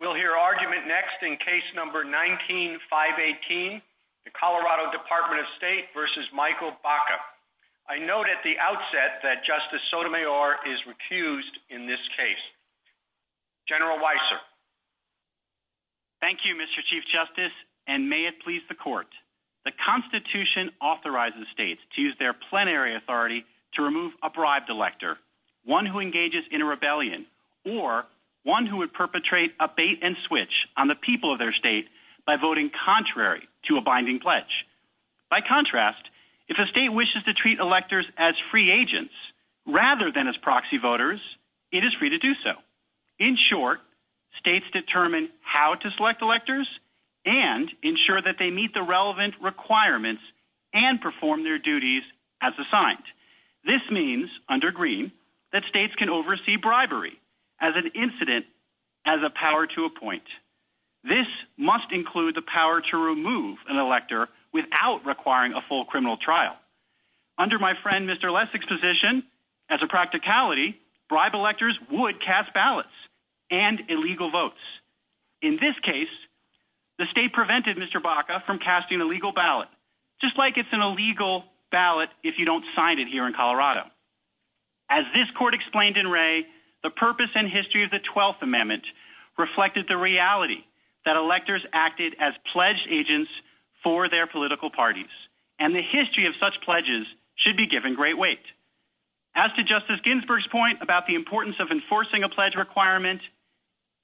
We'll hear argument next in Case No. 19-518, Colorado Dept. of State v. Michael Baca. I note at the outset that Justice Sotomayor is recused in this case. General Weiser. Thank you, Mr. Chief Justice, and may it please the Court. The Constitution authorizes states to use their plenary authority to remove a bribed elector, one who engages in a rebellion, or one who would perpetrate a bait-and-switch on the people of their state by voting contrary to a binding pledge. By contrast, if a state wishes to treat electors as free agents rather than as proxy voters, it is free to do so. In short, states determine how to select electors and ensure that they meet the relevant requirements and perform their duties as assigned. This means, under Greene, that states can oversee bribery as an incident as a power to appoint. This must include the power to remove an elector without requiring a full criminal trial. Under my friend Mr. Lessig's position, as a practicality, bribed electors would cast ballots and illegal votes. In this case, the state prevented Mr. Baca from casting a legal ballot, just like it's an illegal ballot if you don't sign it here in Colorado. As this Court explained in Wray, the purpose and history of the Twelfth Amendment reflected the reality that electors acted as pledged agents for their political parties, and the history of such pledges should be given great weight. As to Justice Ginsburg's point about the importance of enforcing a pledge requirement,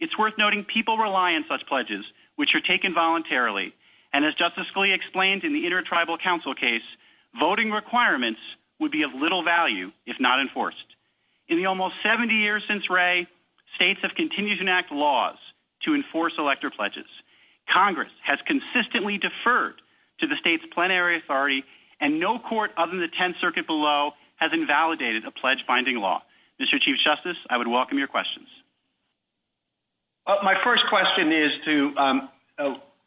it's worth noting people rely on such pledges, which are taken voluntarily, and as Justice Scalia explained in the Inter-Tribal Council case, voting requirements would be of little value if not enforced. In the almost 70 years since Wray, states have continued to enact laws to enforce elector pledges. Congress has consistently deferred to the state's plenary authority, and no court other than the Tenth Circuit below has invalidated a pledge-finding law. Mr. Chief Justice, I would welcome your questions. My first question is to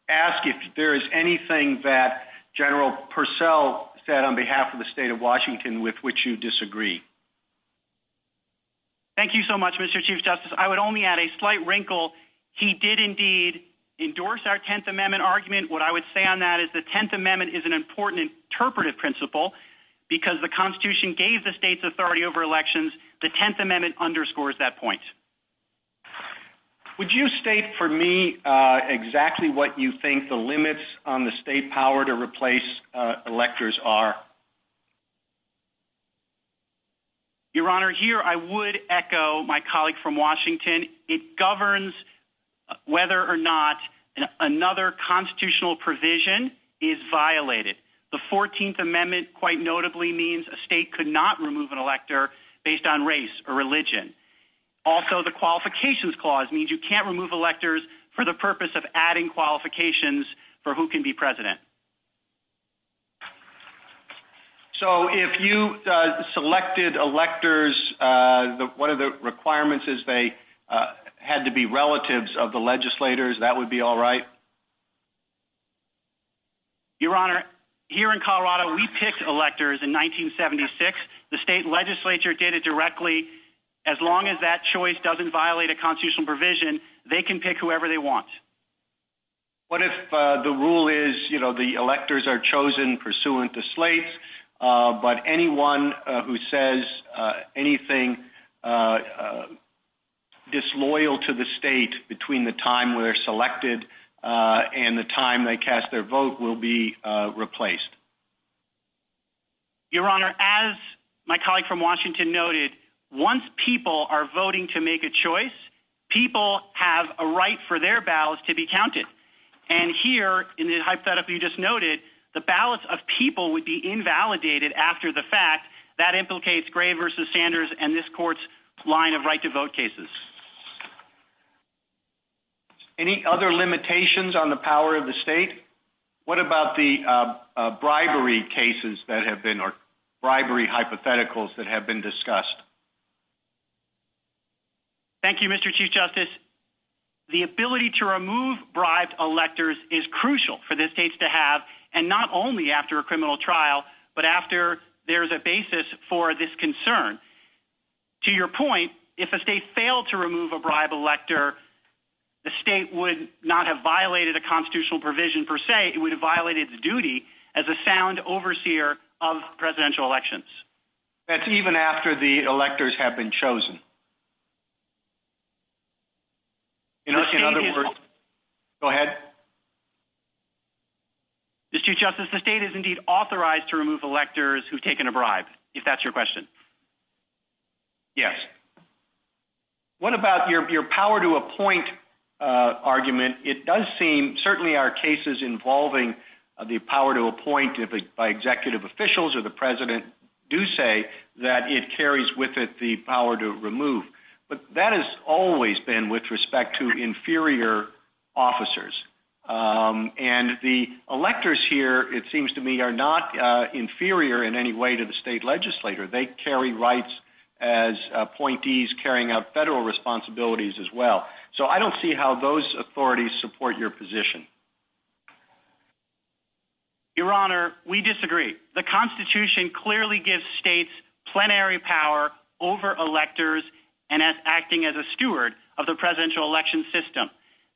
ask if there is anything that General Purcell said on behalf of the state of Washington with which you disagree. Thank you so much, Mr. Chief Justice. I would only add a slight wrinkle. He did indeed endorse our Tenth Amendment argument. What I would say on that is the Tenth Amendment is an important interpretive principle because the Constitution gave the state's authority over elections. The Tenth Amendment underscores that point. Would you state for me exactly what you think the limits on the state power to replace electors are? Your Honor, here I would echo my colleague from Washington. It governs whether or not another constitutional provision is violated. The Fourteenth Amendment quite notably means a state could not remove an elector based on race or religion. Also, the Qualifications Clause means you can't remove electors for the purpose of adding qualifications for who can be president. So, if you selected electors, one of the requirements is they had to be relatives of the legislators, that would be all right? Your Honor, here in Colorado, we picked electors in 1976. The state legislature did it directly. As long as that choice doesn't violate a constitutional provision, they can pick whoever they want. What if the rule is the electors are chosen pursuant to slates, but anyone who says anything disloyal to the state between the time they're selected and the time they cast their vote will be replaced? Your Honor, as my colleague from Washington noted, once people are voting to make a choice, people have a right for their ballots to be counted. And here, in the hypothetical you just noted, the ballots of people would be invalidated after the fact. That implicates Gray v. Sanders and this Court's line of right-to-vote cases. Any other limitations on the power of the state? What about the bribery cases that have been, or bribery hypotheticals that have been discussed? Thank you, Mr. Chief Justice. The ability to remove bribed electors is crucial for the states to have, and not only after a criminal trial, but after there's a basis for this concern. To your point, if a state failed to remove a bribed elector, the state would not have violated a constitutional provision per se, it would have violated its duty as a sound overseer of presidential elections. That's even after the electors have been chosen. In other words... Go ahead. Mr. Chief Justice, the state is indeed authorized to remove electors who've taken a bribe, if that's your question. Yes. What about your power to appoint argument? It does seem, certainly our cases involving the power to appoint by executive officials or the president, do say that it carries with it the power to remove. But that has always been with respect to inferior officers. And the electors here, it seems to me, are not inferior in any way to the state legislator. They carry rights as appointees, carrying out federal responsibilities as well. So I don't see how those authorities support your position. Your Honor, we disagree. The Constitution clearly gives states plenary power over electors and acting as a steward of the presidential election system.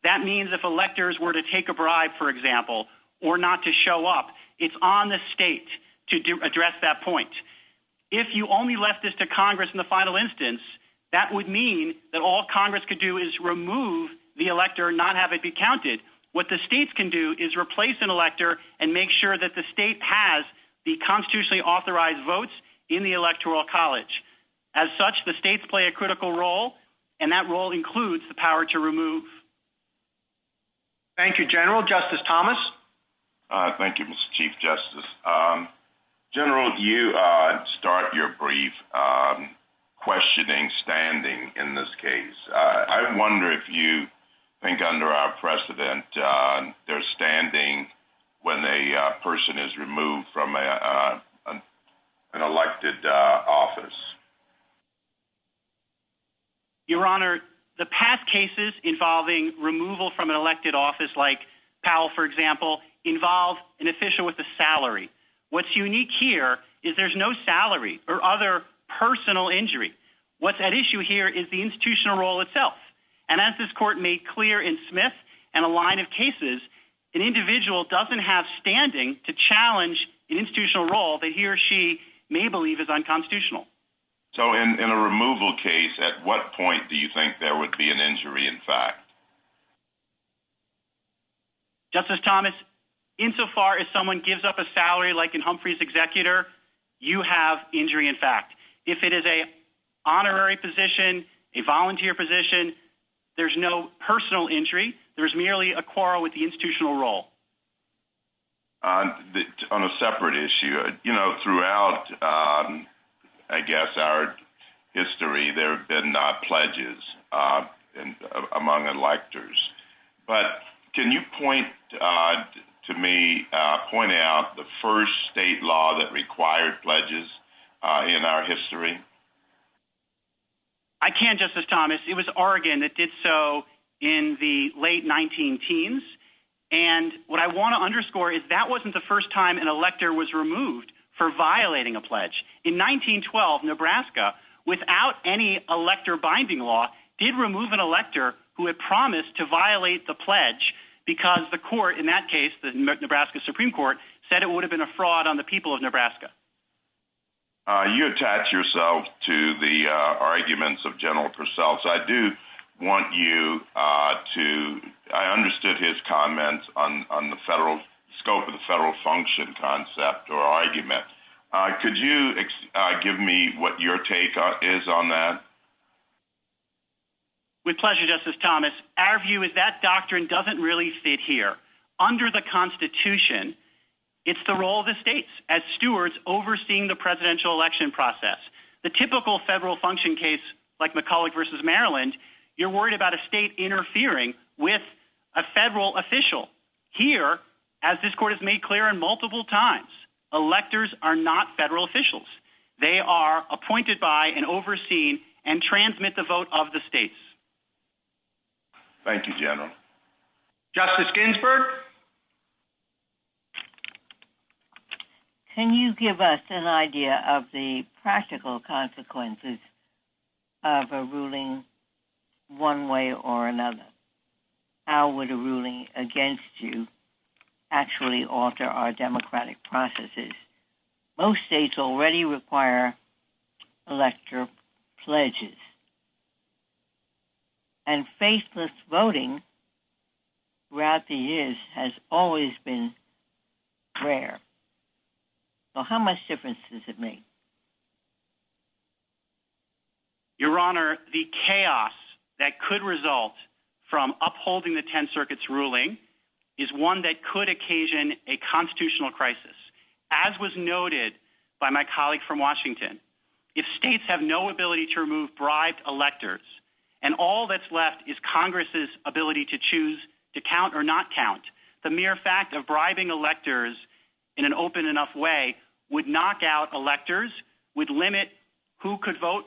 That means if electors were to take a bribe, for example, or not to show up, it's on the state to address that point. If you only left this to Congress in the final instance, that would mean that all Congress could do is remove the elector and not have it be counted. What the states can do is replace an elector and make sure that the state has the constitutionally authorized votes in the electoral college. As such, the states play a critical role, and that role includes the power to remove. Thank you, General. Justice Thomas? Thank you, Mr. Chief Justice. General, you start your brief questioning standing in this case. I wonder if you think, under our precedent, they're standing when a person is removed from an elected office. Your Honor, the past cases involving removal from an elected office, like Powell, for example, involve an official with a salary. What's unique here is there's no salary or other personal injury. What's at issue here is the institutional role itself. And as this Court made clear in Smith and a line of cases, an individual doesn't have standing to challenge an institutional role that he or she may believe is unconstitutional. So in a removal case, at what point do you think there would be an injury, in fact? Justice Thomas, insofar as someone gives up a salary, like in Humphrey's executor, you have injury, in fact. If it is an honorary position, a volunteer position, there's no personal injury. There's merely a quarrel with the institutional role. On a separate issue, you know, throughout, I guess, our history, there have been pledges among electors. But can you point to me, point out the first state law that required pledges in our history? I can, Justice Thomas. It was Oregon that did so in the late 19-teens. And what I want to underscore is that wasn't the first time an elector was removed for violating a pledge. In 1912, Nebraska, without any elector binding law, did remove an elector who had promised to violate the pledge because the court in that case, the Nebraska Supreme Court, said it would have been a fraud on the people of Nebraska. You attach yourself to the arguments of General Purcell. So I do want you to, I understood his comments on the scope of the federal function concept or argument. Could you give me what your take is on that? With pleasure, Justice Thomas. Our view is that doctrine doesn't really fit here. Under the Constitution, it's the role of the states as stewards overseeing the presidential election process. The typical federal function case, like McCulloch v. Maryland, you're worried about a state interfering with a federal official. Here, as this court has made clear on multiple times, electors are not federal officials. They are appointed by and overseen and transmit the vote of the states. Thank you, General. Justice Ginsburg? Can you give us an idea of the practical consequences of a ruling one way or another? How would a ruling against you actually alter our democratic processes? Most states already require electoral pledges. And faithless voting throughout the years has always been rare. So how much difference does it make? Your Honor, the chaos that could result from upholding the Tenth Circuit's ruling is one that could occasion a constitutional crisis. As was noted by my colleague from Washington, if states have no ability to remove bribed electors, and all that's left is Congress's ability to choose to count or not count, the mere fact of bribing electors in an open enough way would knock out electors, would limit who could vote,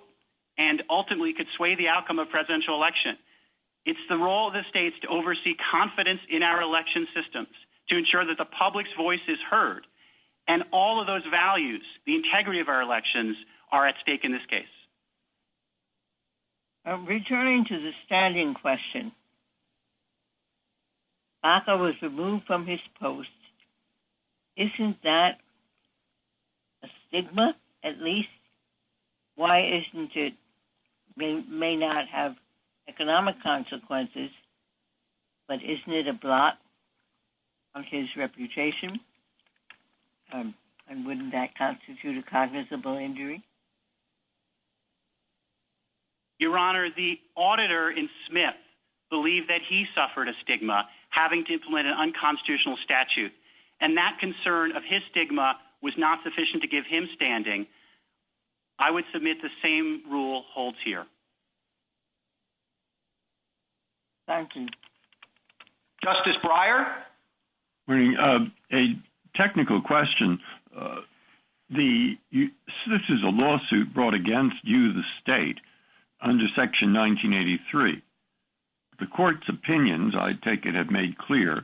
and ultimately could sway the outcome of presidential election. It's the role of the states to oversee confidence in our election systems, to ensure that the public's voice is heard, and all of those values, the integrity of our elections, are at stake in this case. Returning to the standing question, Baca was removed from his post. Isn't that a stigma, at least? Why isn't it? It may not have economic consequences, but isn't it a blot? On his reputation? And wouldn't that constitute a cognizable injury? Your Honor, the auditor in Smith believed that he suffered a stigma having to implement an unconstitutional statute, and that concern of his stigma was not sufficient to give him standing. I would submit the same rule holds here. Thank you. Justice Breyer? A technical question. This is a lawsuit brought against you, the state, under Section 1983. The Court's opinions, I take it, have made clear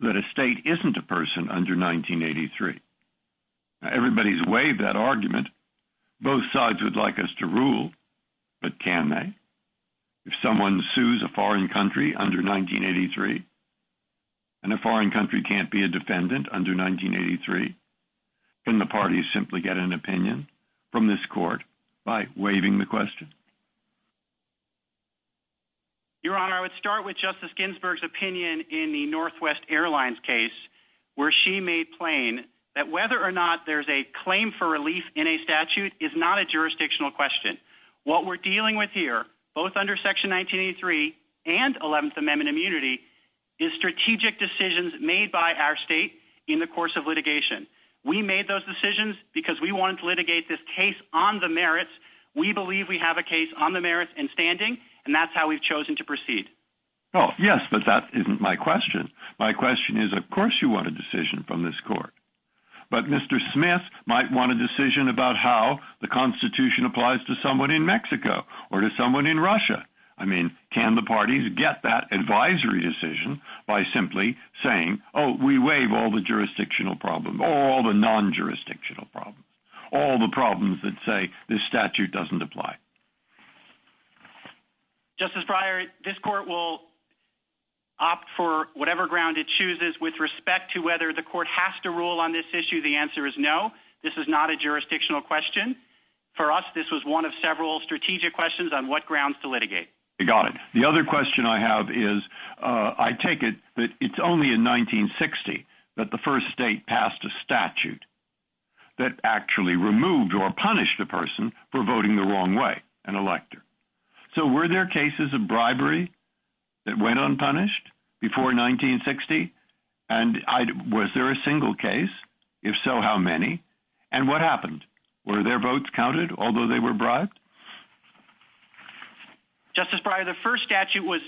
that a state isn't a person under 1983. Everybody's waived that argument. Both sides would like us to rule, but can they? If someone sues a foreign country under 1983 and a foreign country can't be a defendant under 1983, can the parties simply get an opinion from this Court by waiving the question? Your Honor, I would start with Justice Ginsburg's opinion in the Northwest Airlines case where she made plain that whether or not there's a claim for relief in a statute is not a jurisdictional question. What we're dealing with here, both under Section 1983 and Eleventh Amendment immunity, is strategic decisions made by our state in the course of litigation. We made those decisions because we wanted to litigate this case on the merits. We believe we have a case on the merits and standing, and that's how we've chosen to proceed. Oh, yes, but that isn't my question. My question is, of course you want a decision from this Court. But Mr. Smith might want a decision about how the Constitution applies to someone in Mexico or to someone in Russia. I mean, can the parties get that advisory decision by simply saying, oh, we waive all the jurisdictional problems, all the non-jurisdictional problems, all the problems that say this statute doesn't apply? Justice Breyer, this Court will opt for whatever ground it chooses with respect to whether the Court has to rule on this issue. The answer is no. This is not a jurisdictional question. For us, this was one of several strategic questions on what grounds to litigate. You got it. The other question I have is, I take it that it's only in 1960 that the first state passed a statute that actually removed or punished a person for voting the wrong way, an elector. So were there cases of bribery that went unpunished before 1960? And was there a single case? If so, how many? And what happened? Were their votes counted, although they were bribed? Justice Breyer, the first statute was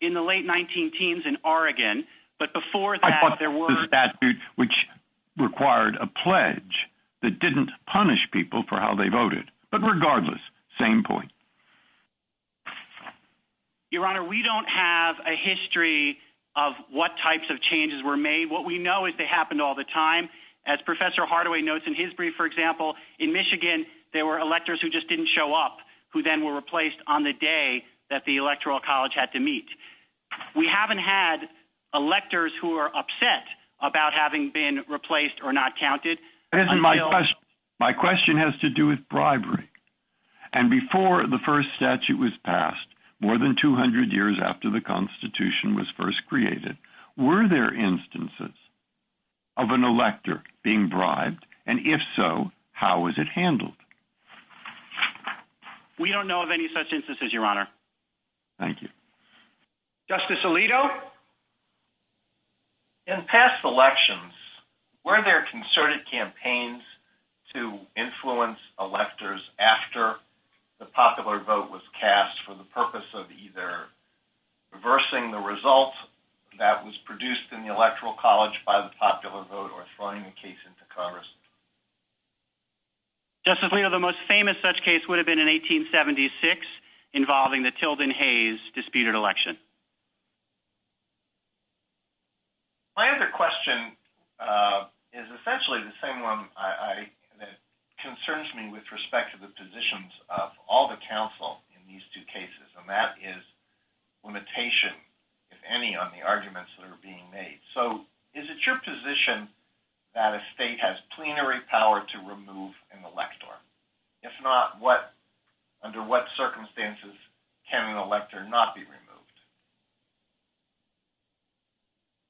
in the late 19-teens in Oregon, but before that, there were... I thought the statute, which required a pledge that didn't punish people for how they voted. But regardless, same point. Your Honor, we don't have a history of what types of changes were made. What we know is they happened all the time. As Professor Hardaway notes in his brief, for example, in Michigan, there were electors who just didn't show up, who then were replaced on the day that the Electoral College had to meet. We haven't had electors who are upset about having been replaced or not counted... My question has to do with bribery. And before the first statute was passed, more than 200 years after the Constitution was first created, were there instances of an elector being bribed? And if so, how was it handled? We don't know of any such instances, Your Honor. Thank you. Justice Alito? In past elections, were there concerted campaigns to influence electors after the popular vote was cast for the purpose of either reversing the result that was produced in the Electoral College by the popular vote or throwing the case into Congress? Justice Alito, the most famous such case would have been in 1876 involving the Tilden-Hayes disputed election. My other question is essentially the same one that concerns me with respect to the positions of all the counsel in these two cases. And that is limitation, if any, on the arguments that are being made. So, is it your position that a state has plenary power to remove an elector? If not, under what circumstances can an elector not be removed?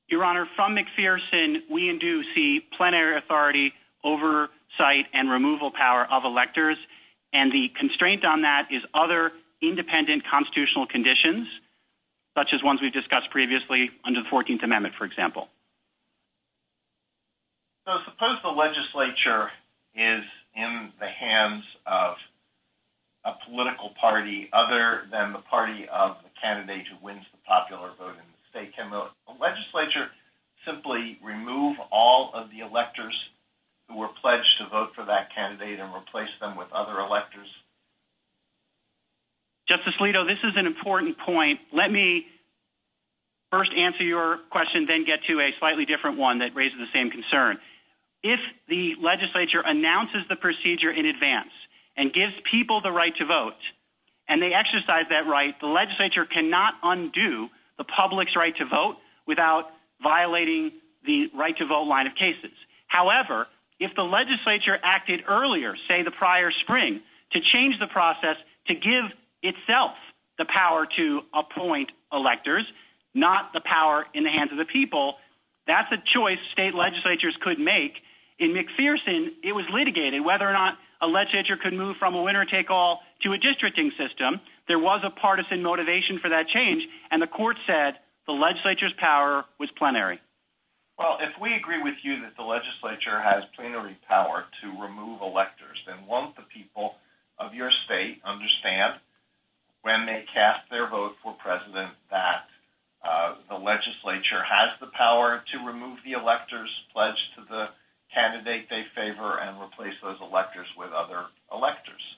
Your Honor, from McPherson, we do see plenary authority oversight and removal power of electors. And the constraint on that is other independent constitutional conditions such as ones we've discussed previously under the 14th Amendment, for example. So, suppose the legislature is in the hands of a political party other than the party of the candidate who wins the popular vote in the state. Can the legislature simply remove all of the electors who were pledged to vote for that candidate and replace them with other electors? Justice Alito, this is an important point. Let me first answer your question then get to a slightly different one that raises the same concern. If the legislature announces the procedure in advance and gives people the right to vote, and they exercise that right, the legislature cannot undo the public's right to vote without violating the right to vote line of cases. However, if the legislature acted earlier, say the prior spring, to change the process to give itself the power to appoint electors, not the power in the hands of the people, that's a choice state legislatures could make. In McPherson, it was litigated whether or not a legislature could move from a winner-take-all to a districting system. There was a partisan motivation for that change and the court said the legislature's power was plenary. Well, if we agree with you that the legislature has plenary power to remove electors, then won't the people of your state understand when they cast their vote for president that the legislature has the power to remove the electors pledged to the candidate they favor and replace those electors with other electors?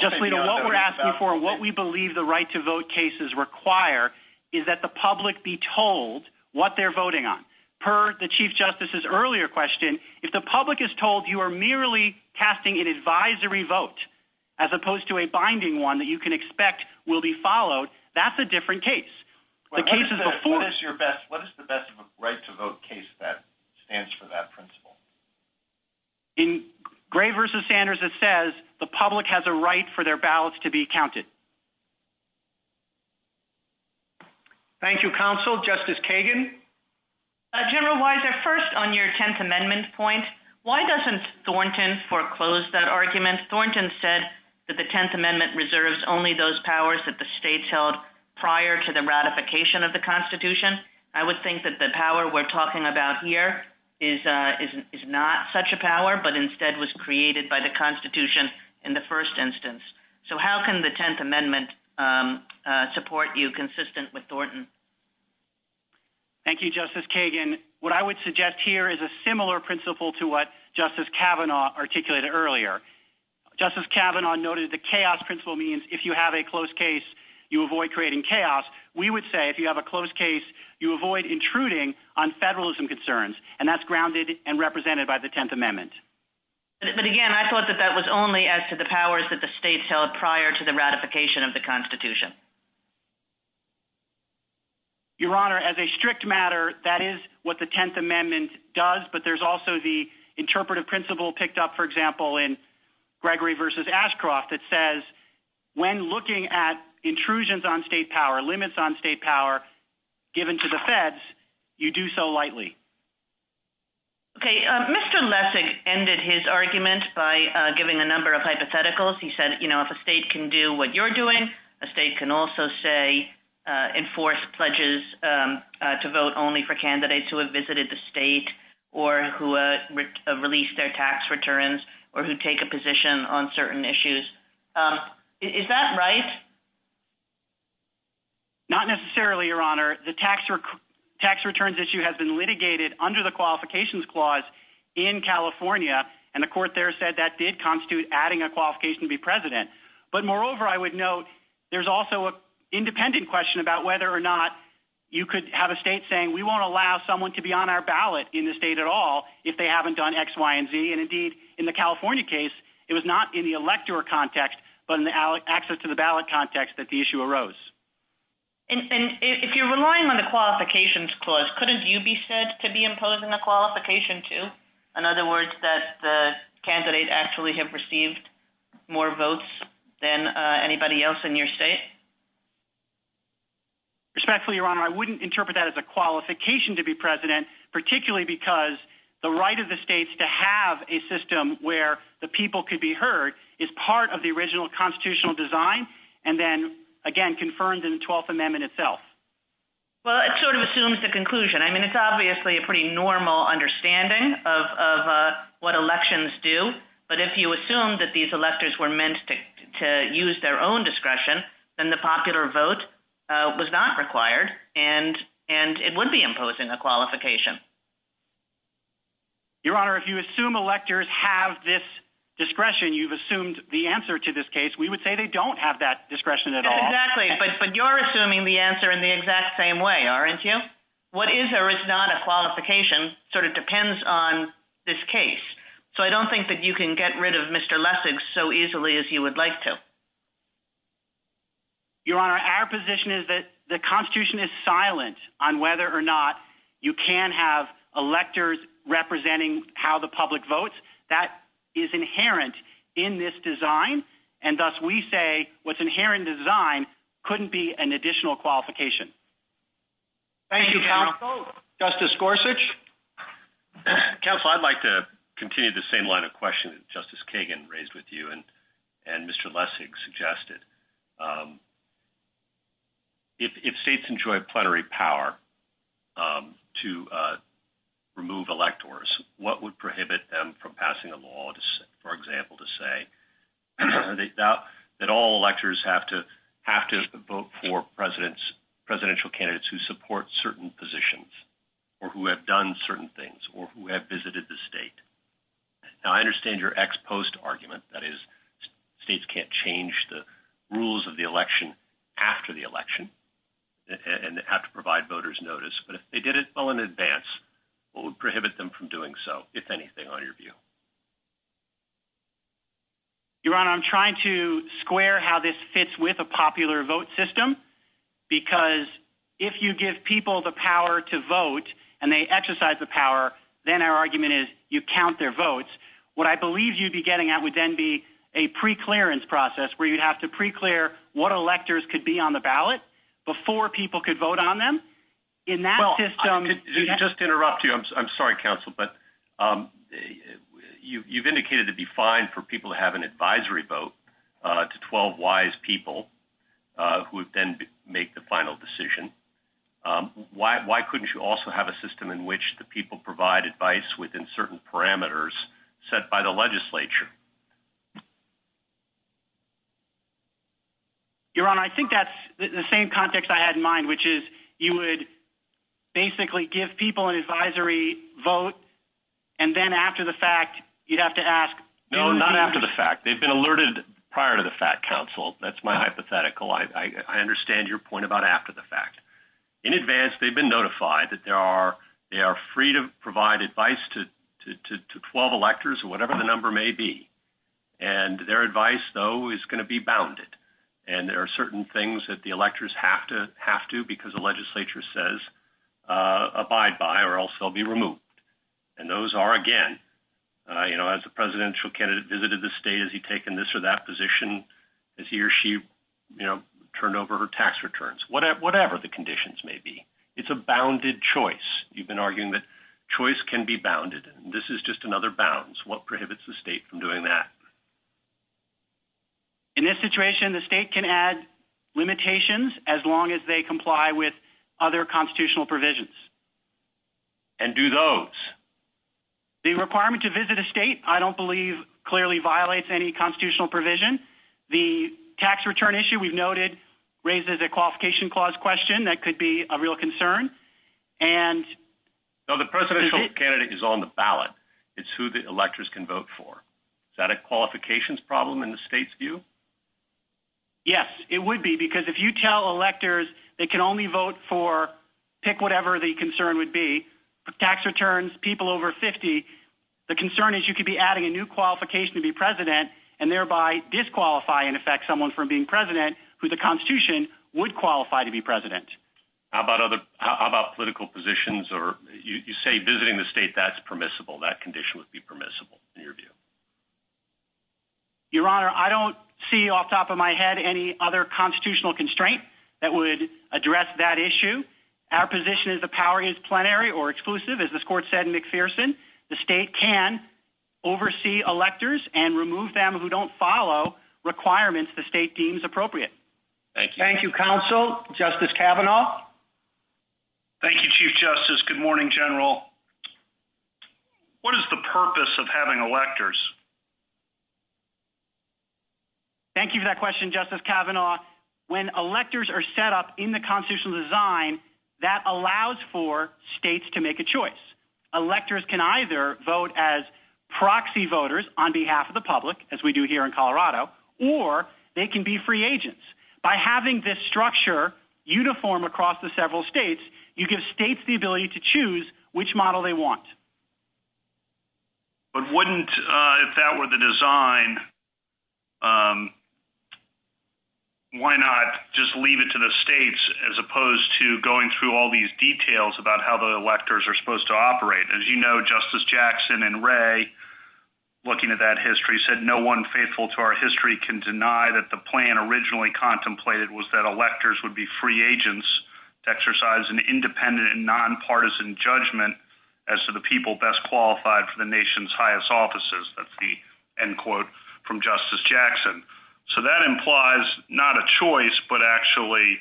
Justice Alito, what we're asking for, what we believe the right to vote cases require is that the public be told what they're voting on. Per the Chief Justice's earlier question, if the public is told you are merely casting an advisory vote as opposed to a binding one that you can expect will be followed, that's a different case. What is the best right to vote case that stands for that principle? In Gray v. Sanders it says the public has a right for their ballots to be counted. Thank you, Counsel. Justice Kagan? General Weiser, first on your Tenth Amendment point, why doesn't Thornton foreclose that argument? Thornton said that the Tenth Amendment reserves only those powers that the states held prior to the ratification of the Constitution. I would think that the power we're talking about here is not such a power, but instead was created by the Constitution in the first instance. So how can the Tenth Amendment support you consistent with Thornton? Thank you, Justice Kagan. What I would suggest here is a similar principle to what Justice Kavanaugh articulated earlier. Justice Kavanaugh noted the chaos principle means if you have a closed case, you avoid creating chaos. We would say if you have a closed case, you avoid intruding on federalism concerns. And that's grounded and represented by the Tenth Amendment. But again, I thought that that was only as to the powers that the states held prior to the ratification of the Constitution. Your Honor, as a strict matter, that is what the Tenth Amendment does, but there's also the interpretive principle picked up, for example, in Gregory v. Ashcroft that says when looking at intrusions on state power, limits on state power given to the feds, you do so lightly. Okay, Mr. Lessig ended his argument by giving a number of hypotheticals. He said if a state can do what you're doing, a state can also, say, enforce pledges to vote only for candidates who have visited the state or who have released their tax returns or who take a position on certain issues. Is that right? Not necessarily, Your Honor. The tax returns issue has been litigated under the qualifications clause in California and the court there said that did constitute adding a qualification to be president. But moreover, I would note, there's also an independent question about whether or not you could have a state saying we won't allow someone to be on our ballot in the state at all if they haven't done X, Y, and Z. And indeed, in the California case, it was not in the elector context, but in the access to the ballot context that the issue arose. And if you're relying on the qualifications clause, couldn't you be said to be imposing a qualification to? In other words, that the candidate actually have received more votes than anybody else in your state? Respectfully, Your Honor, I wouldn't interpret that as a qualification to be president, particularly because the right of the states to have a system where the people could be heard is part of the original constitutional design and then, again, confirmed in the 12th Amendment itself. Well, it sort of assumes the conclusion. I mean, it's an understanding of what elections do, but if you assume that these electors were meant to use their own discretion, then the popular vote was not required, and it would be imposing a qualification. Your Honor, if you assume electors have this discretion, you've assumed the answer to this case. We would say they don't have that discretion at all. Exactly, but you're assuming the answer in the exact same way, aren't you? What is there is not a qualification. It depends on this case. I don't think that you can get rid of Mr. Lessig so easily as you would like to. Your Honor, our position is that the Constitution is silent on whether or not you can have electors representing how the public votes. That is inherent in this design, and thus we say what's inherent in design couldn't be an additional qualification. Thank you. Justice Gorsuch? Counsel, I'd like to continue the same line of question that Justice Kagan raised with you and Mr. Lessig suggested. If states enjoy plenary power to remove electors, what would prohibit them from passing a law, for example, to say that all electors have to vote for presidential candidates who support certain positions or who have done certain things or who have visited the state? Now, I understand your ex-post argument, that is states can't change the rules of the election after the election and have to provide voters notice, but if they did it well in advance, what would prohibit them from doing so, if anything, on your view? Your Honor, I'm trying to square how this fits with a popular vote system, because if you give people the power to vote and they exercise the power, then our argument is you count their votes. What I believe you'd be getting at would then be a pre-clearance process where you'd have to pre-clear what electors could be on the ballot before people could vote on them. In that system... Just to interrupt you, I'm sorry, Counsel, but you've indicated it'd be fine for people to have an advisory vote to 12 wise people who would then make the final decision. Why couldn't you also have a system in which the people provide advice within certain parameters set by the legislature? Your Honor, I think that's the same context I had in mind, which is you would basically give people an advisory vote and then after the fact, you'd have to ask... No, not after the fact. They've been alerted prior to the fact, Counsel. That's my hypothetical. I understand your point about after the fact. In advance, they've been notified that they are free to provide advice to 12 electors or whatever the number may be. And their advice, though, is going to be bounded. And there are certain things that the electors have to, because the legislature says, abide by or else they'll be removed. And those are, again, as the presidential candidate visited the state, has he taken this or that position? Has he or she turned over her tax returns? Whatever the conditions may be. It's a bounded choice. You've been arguing that choice can be bounded. This is just another bounds. What prohibits the state from doing that? In this situation, the state can add limitations as long as they comply with other constitutional provisions. And do those? The requirement to visit a state, I don't believe, clearly violates any constitutional provision. The tax return issue, we've noted, raises a qualification clause question that could be a real concern. And... No, the presidential candidate is on the ballot. It's who the electors can vote for. Is that a qualifications problem in the state's view? Yes, it would be, because if you tell electors they can only vote for pick whatever the concern would be, tax returns, people over 50, the concern is you could be adding a new qualification to be president and thereby disqualify, in effect, someone from being president who the Constitution would qualify to be president. How about political positions? You say visiting the state, that's permissible. That condition would be permissible, in your view? Your Honor, I don't see off the top of my head any other constitutional constraint that would address that issue. Our position is the power is plenary or exclusive, as this Court said in McPherson. The state can oversee electors and remove them who don't follow requirements the state deems appropriate. Thank you. Thank you, Counsel. Justice Kavanaugh? Thank you, Chief Justice. Good morning, General. What is the purpose of having electors? Thank you for that question, Justice Kavanaugh. When electors are set up in the constitutional design, that allows for states to make a choice. Electors can either vote as proxy voters on behalf of the public, as we do here in Colorado, or they can be free agents. By having this structure uniform across the several states, you give states the ability to choose which model they want. But wouldn't, if that were the design, why not just leave it to the states as opposed to going through all these details about how the electors are supposed to operate? As you know, Justice Jackson and Ray, looking at that history, said no one faithful to our history can deny that the plan originally contemplated was that electors would be free agents to exercise an independent and nonpartisan judgment as to the people best qualified for the nation's highest offices. That's the end quote from Justice Jackson. So that implies not a choice but actually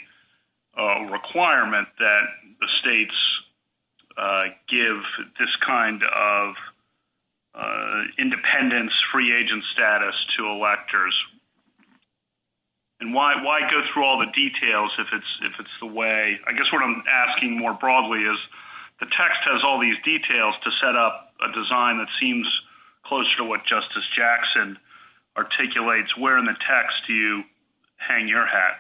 a requirement that the states give this kind of independence free agent status to electors. And why go through all the details if it's the way, I guess what I'm asking more broadly is the text has all these details to set up a design that seems closer to what Justice Jackson articulates. Where in the text do you hang your hat?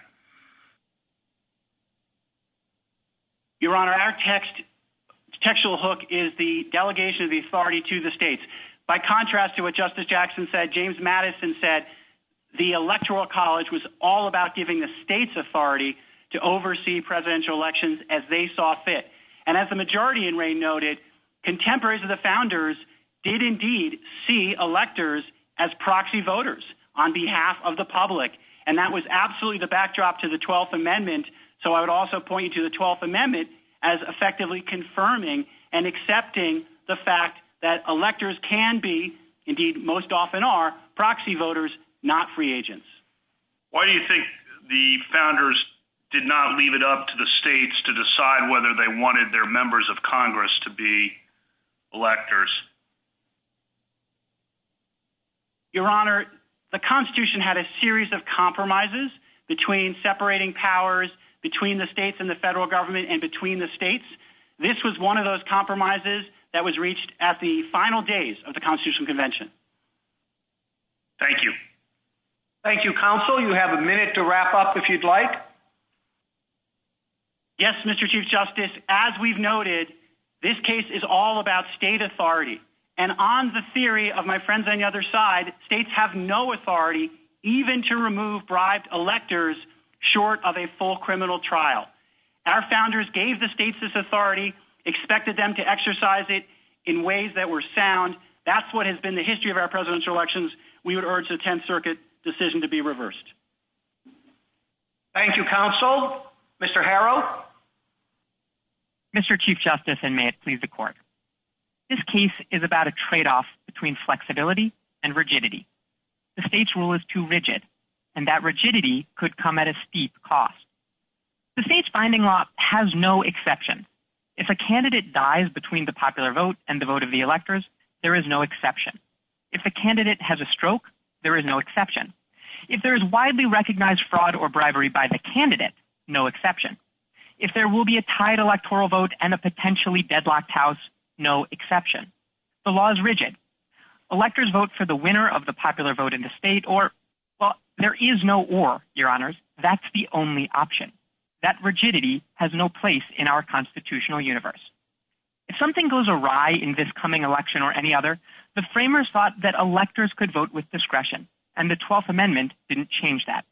Your Honor, our textual hook is the delegation of the authority to the states. By contrast to what Justice Jackson said, James Madison said the Electoral College was all about giving the states authority to oversee presidential elections as they saw fit. And as the majority in Ray noted, contemporaries of the founders did indeed see electors as proxy voters on behalf of the public. And that was absolutely the backdrop to the 12th Amendment. So I would also point you to the 12th Amendment as effectively confirming and accepting the fact that electors can be, indeed most often are, proxy voters, not free agents. Why do you think the founders did not leave it up to the states to decide whether they wanted their members of Congress to be electors? Your Honor, the Constitution had a series of compromises between separating powers between the states and the federal government and between the states. This was one of those compromises that was reached at the final days of the Constitutional Convention. Thank you. Thank you, Counsel. You have a minute to wrap up if you'd like. Yes, Mr. Chief Justice. As we've noted, this case is all about state authority. And on the theory of my friends on the other side, states have no authority even to remove bribed electors short of a full criminal trial. Our founders gave the states this authority, expected them to exercise it in ways that were sound. That's what has been the history of our presidential elections. We would urge the Tenth Circuit decision Thank you, Counsel. Mr. Harrow? Mr. Chief Justice, and may it is about a tradeoff between flexibility and rigidity. The state's rule is too rigid, and that rigidity could come at a steep cost. The state's finding law has no exception. If a candidate dies between the popular vote and the vote of the electors, there is no exception. If the candidate has a stroke, there is no exception. If there is widely recognized fraud or bribery by the candidate, no exception. If there will be a tied electoral vote and a potentially deadlocked vote, there is no exception. The law is rigid. Electors vote for the winner of the popular vote in the state, or, well, there is no or, Your Honors. That's the only option. That rigidity has no place in our constitutional universe. If something goes awry in this coming election or any other, the framers thought that electors could vote with discretion, and the 12th Amendment didn't change that.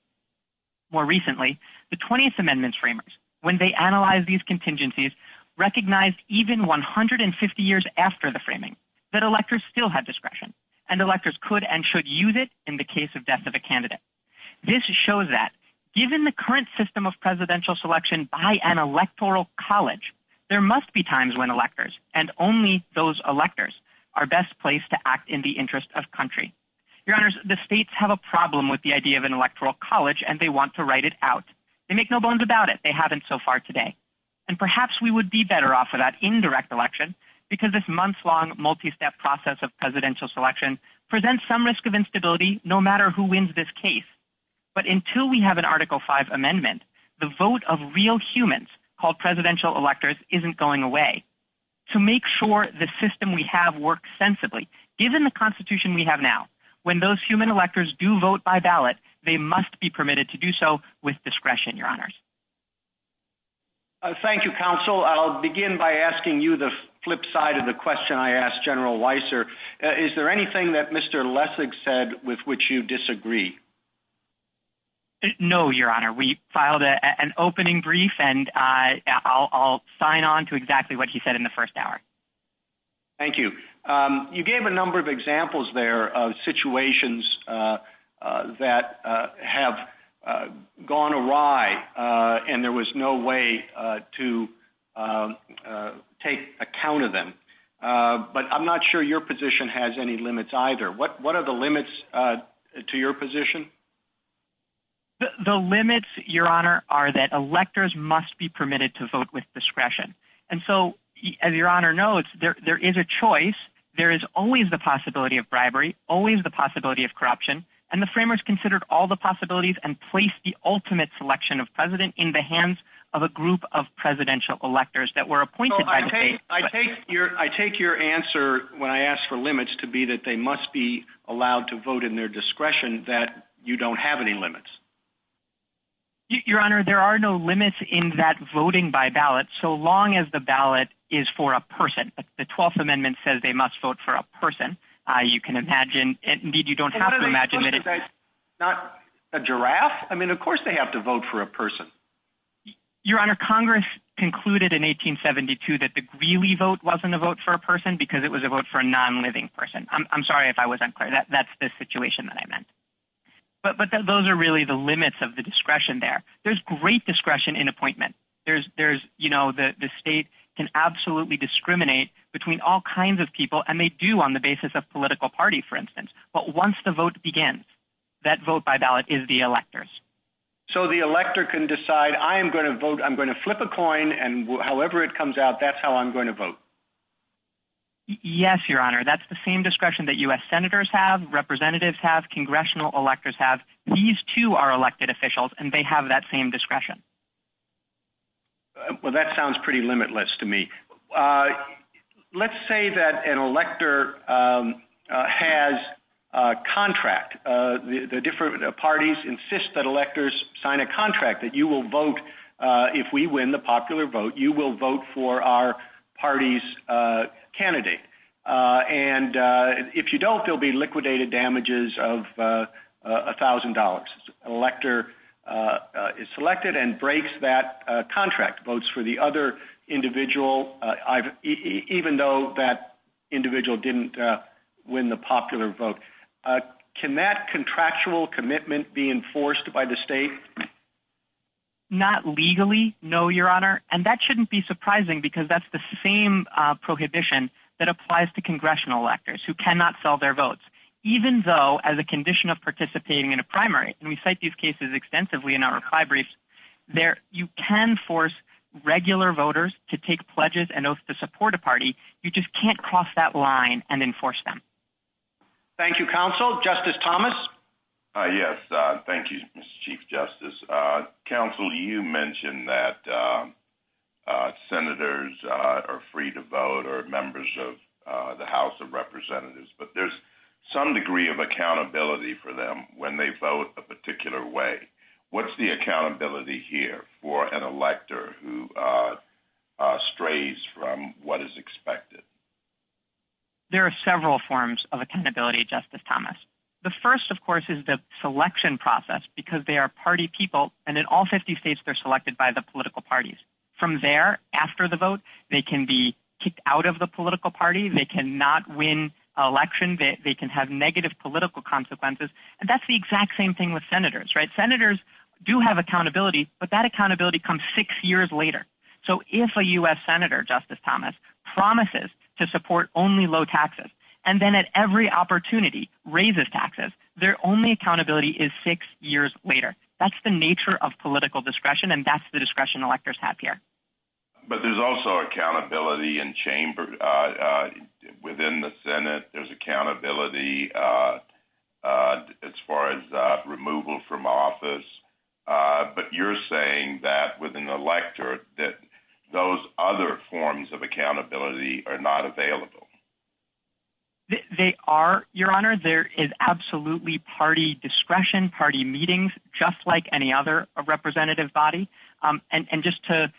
More recently, the 20th Amendment's framers, when they analyzed these contingencies, recognized even 150 years after the framing that electors still had discretion, and electors could and should use it in the case of death of a candidate. This shows that, given the current system of presidential selection by an electoral college, there must be times when electors, and only those electors, are best placed to act in the interest of country. Your Honors, the states have a problem with the idea of an electoral college, and they want to write it out. They make no bones about it. They haven't so far today. And perhaps we would be better off without indirect election because this months-long, multi-step process of presidential selection presents some risk of instability, no matter who wins this case. But until we have an Article V Amendment, the vote of real humans, called presidential electors, isn't going away. To make sure the system we have works sensibly, given the Constitution we have now, when those human electors do vote by ballot, they must be permitted to do so with their ballots. Thank you, Counsel. I'll begin by asking you the flip side of the question I asked General Weiser. Is there anything that Mr. Lessig said with which you disagree? No, Your Honor. We filed an opening brief, and I'll sign on to exactly what he said in the first hour. Thank you. You gave a number of examples there of situations that have gone awry, and there was no way to take account of them. But I'm not sure your position has any limits either. What are the limits to your position? The limits, Your Honor, are that electors must be permitted to vote with discretion. And so, as Your Honor knows, there is a choice. There is always the possibility of bribery, always the possibility of corruption, and the framers considered all the possibilities and placed the ultimate selection of president in the hands of a group of presidential electors that were appointed by the state. I take your answer when I ask for limits to be that they must be allowed to vote in their discretion, that you don't have any limits. Your Honor, there are no limits in that voting by ballot, so long as the ballot is for a person. The 12th Amendment says they must vote for a person. You can imagine, not a giraffe? I mean, of course they have to vote for a person. Your Honor, Congress concluded in 1872 that the Greeley vote wasn't a vote for a person because it was a vote for a non-living person. I'm sorry if I wasn't clear. That's the situation that I meant. But those are really the limits of the discretion there. There's great discretion in appointment. You know, the state can absolutely discriminate between all kinds of people, and they do on the basis of political party, for instance. But once the vote begins, that vote by ballot is the elector's. So the elector can decide, I'm going to flip a coin, and however it comes out, that's how I'm going to vote. Yes, Your Honor. That's the same discretion that U.S. senators have, representatives have, congressional electors have. These two are elected officials, and they have that same discretion. Well, that sounds pretty limitless to me. Let's say that an elector has a contract. The different parties insist that electors sign a contract that you will vote, if we win the popular vote, you will vote for our party's And if you don't, there'll be liquidated damages of $1,000. An elector is selected and breaks that contract, votes for the other individual, even though that individual didn't win the popular vote. Can that contractual commitment be enforced by the state? Not legally, no, Your Honor. And that shouldn't be surprising because that's the same prohibition that applies to congressional electors, who cannot sell their votes. Even though, as a condition of participating in a primary, and we cite these cases extensively in our reply briefs, you can force regular voters to take pledges and oaths to support a party, you just can't cross that line and enforce them. Thank you, Counsel. Justice Thomas? Yes, thank you, Mr. Chief Justice. Counsel, you mentioned that senators are free to vote or members of the House of Representatives, but there's some degree of accountability for them when they vote a particular way. What's the accountability here for an elector who strays from what is expected? There are several forms of accountability, Justice Thomas. The first, of course, is the selection process because they are party people, and in all 50 states, they're selected by the political parties. From there, after the vote, they can be kicked out of the political party, they cannot win an election, they can have negative political consequences, and that's the accountability. Senators do have accountability, but that accountability comes six years later. So if a U.S. Senator, Justice Thomas, promises to support only low taxes and then at every opportunity raises taxes, their only accountability is six years later. That's the nature of political discretion, and that's the discretion electors have here. But there's also accountability in chamber. Within the Senate, there's accountability as far as removal from office, but you're saying that with an elector that those other forms of accountability are not available. They are, Your Honor. There is absolutely party discretion, party meetings, just like any other representative body. And just to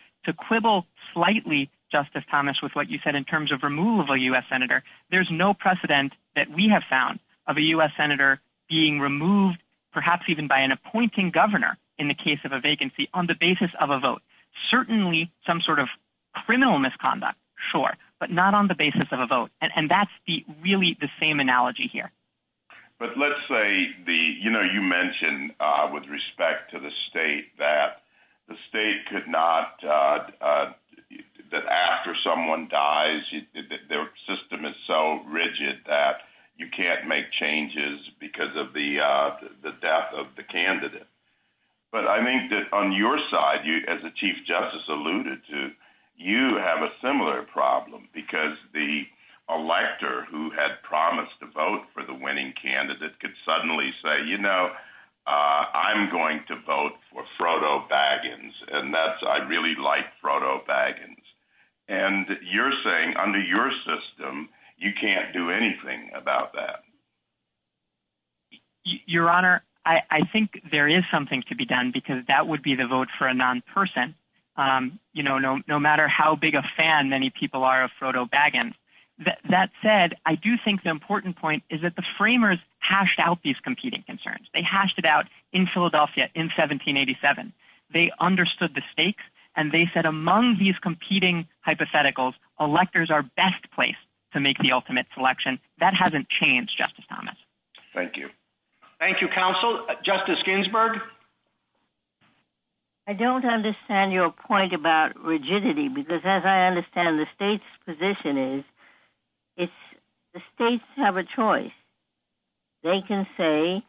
quibble slightly, Justice Thomas, with what you said in terms of removal of a U.S. Senator, there's no precedent that we have found of a U.S. Senator being removed, perhaps even by an appointing governor in the case of a vacancy, on the basis of a vote. Certainly some sort of criminal misconduct, sure, but not on the basis of a vote. And that's really the same analogy here. But let's say, you know, you mentioned with respect to the state that the state could not, that after someone dies, their system is so rigid that you can't make changes because of the death of the candidate. But I think that on your side, as the Chief Justice alluded to, you have a similar problem because the elector who had promised to vote for the winning candidate could suddenly say, you know, I'm going to vote for Frodo Baggins, and that's I really like Frodo Baggins. And you're saying, under your system, you can't do anything about that. Your Honor, I think there is something to be done because that would be the vote for a non-person, you know, no matter how big a fan many people are of Frodo Baggins. That said, I do think the important point is that the framers hashed out these competing concerns. They hashed it out in Philadelphia in 1787. They understood the stakes and they said among these competing hypotheticals, electors are best placed to make the ultimate selection. That hasn't changed, Justice Thomas. Thank you. Thank you, Counsel. Justice Ginsburg? I don't understand your point about rigidity because as I understand the state's position is it's the states have a choice. They can say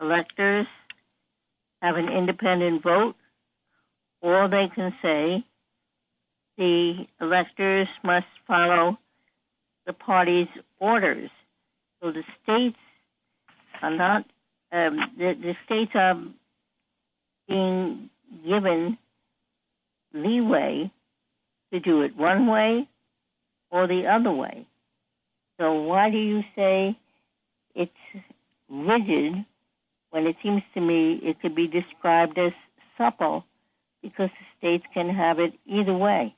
electors have an independent vote or they can say the electors must follow the party's orders. So the states are not, the states are being given leeway to do it one way or the other way. So why do you say it's rigid when it seems to me it could be described as supple because the states can have it either way?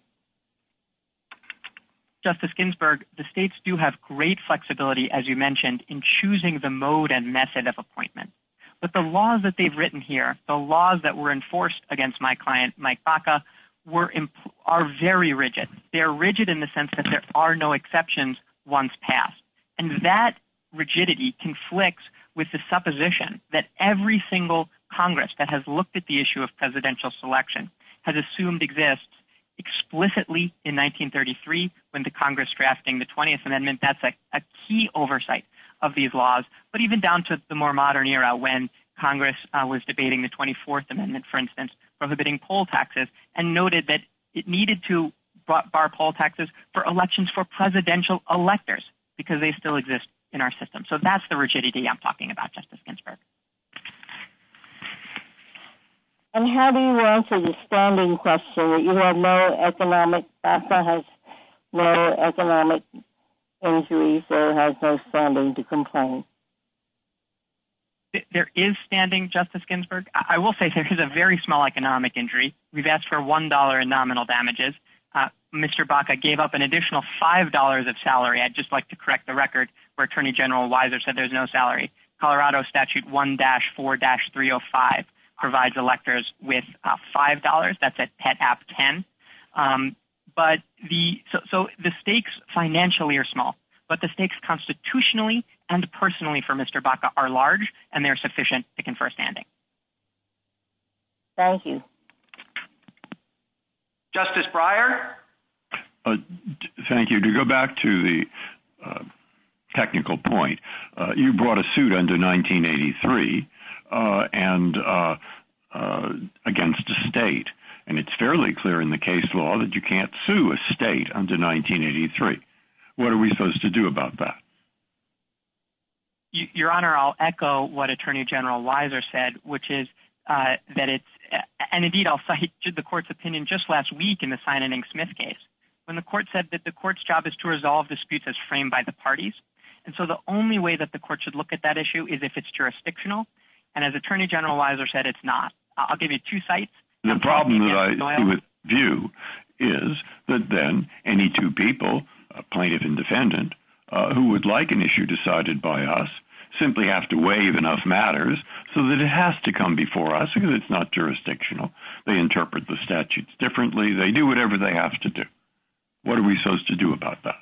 Justice Ginsburg, the states do have great flexibility, as you mentioned, in choosing the mode and method of appointment. But the laws that they've written here, the laws that were enforced against my client Mike Baca are very rigid. They are rigid in the sense that there are no exceptions once passed. And that rigidity conflicts with the supposition that every single Congress that has looked at the issue of presidential selection has assumed exists explicitly in 1933 when the Congress drafting the 20th Amendment, that's a key oversight of these laws but even down to the more modern era when Congress was debating the 24th Amendment, for instance, prohibiting poll taxes and noted that it needed to bar poll taxes for elections for presidential electors because they still exist in our system. So that's the rigidity I'm talking about, Justice Ginsburg. And how do you answer the standing question that you have no economic Baca has no economic injuries or has no standing to complain? There is standing, Justice Ginsburg. I will say there is a very small economic injury. We've asked for $1 in nominal damages. Mr. Baca gave up an additional $5 of salary. I'd just like to correct the record where Attorney General Weiser said there's no salary. Colorado Statute 1-4-305 provides electors with $5. That's at pet app 10. So the stakes financially are small but the stakes constitutionally and personally for Mr. Baca are large and they're sufficient to confer standing. Thank you. Justice Breyer. Thank you. To go back to the technical point, you brought a suit under 1983 against a state and it's fairly clear in the case law that you can't sue a state under 1983. What are we supposed to do about that? Your Honor, I'll echo is that it's and indeed I'll cite the court's opinion just last week in the Simon and Smith case when the court said that the court's job is to resolve disputes as framed by the parties and so the only way that the court should look at that issue is if it's jurisdictional and as Attorney General Weiser said it's not. I'll give you two cites. The problem that I view is that then any two people, plaintiff and defendant who would like an issue decided by us simply have to waive enough matters so that it has to come before us because it's not jurisdictional. They interpret the statutes differently. They do whatever they have to do. What are we supposed to do about that?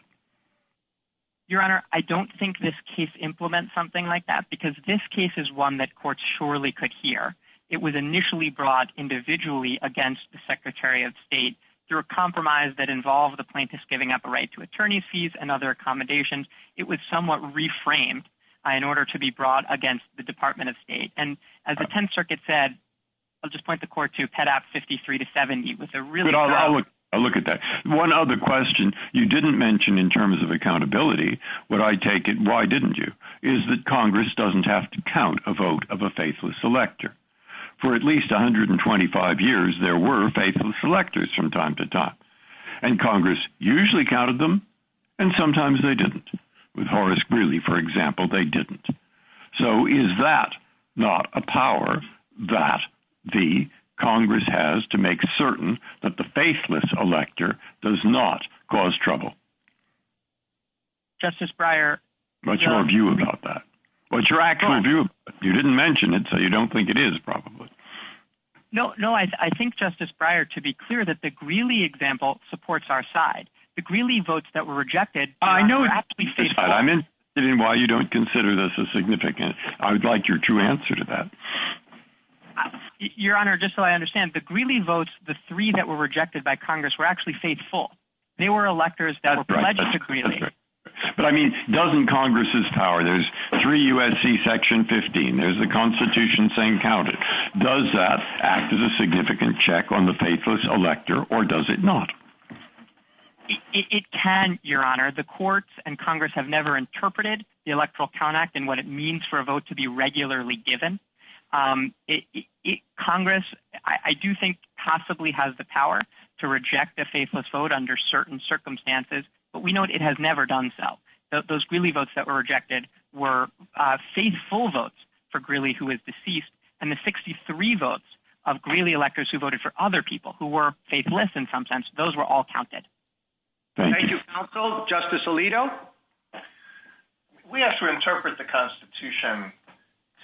Your Honor, I don't think this case implements something like that because this case is one that courts surely could hear. It was initially brought individually against the Secretary of State through a compromise that involved the plaintiffs giving up a right to attorney's fees and other accommodations. It was somewhat reframed in order to be brought against the Department of State and as the Tenth Circuit said I'll just point the court to Pet. Act 53-70. I'll look at that. One other question you didn't mention in terms of accountability what I take it, why didn't you, is that Congress doesn't have to count a vote of a faithless elector. For at least 125 years there were faithless electors from time to time and Congress usually counted them and sometimes they didn't. With Horace Greeley, for example, they didn't. So is that not a power that the Congress has to make certain that the faithless elector does not cause trouble? Justice Breyer What's your view about that? What's your actual view? You didn't mention it so you don't think it is probably. No, I think Justice Breyer to be clear that the Greeley example supports our side. The Greeley votes that were rejected... I'm interested in why you don't consider this a significant... I would like your true answer to that. Your Honor, just so I understand, the Greeley votes, the three that were rejected by Congress were actually faithful. They were electors that were pledged to Greeley. But I mean, doesn't Congress have power? There's 3 U.S.C. Section 15, there's the Constitution saying count it. Does that act as a significant check on the faithless elector or does it not? It can, Your Honor. The courts and Congress have never interpreted the Electoral Count Act and what it means for a vote to be regularly given. Congress, I do think possibly has the power to reject a faithless vote under certain circumstances, but we know it has never done so. Those Greeley votes that were rejected were faithful votes for Greeley who was deceased and the 63 votes of Greeley electors who voted for other people who were faithless in some sense, those were all counted. Thank you, Counsel. Justice Alito? We have to interpret the Constitution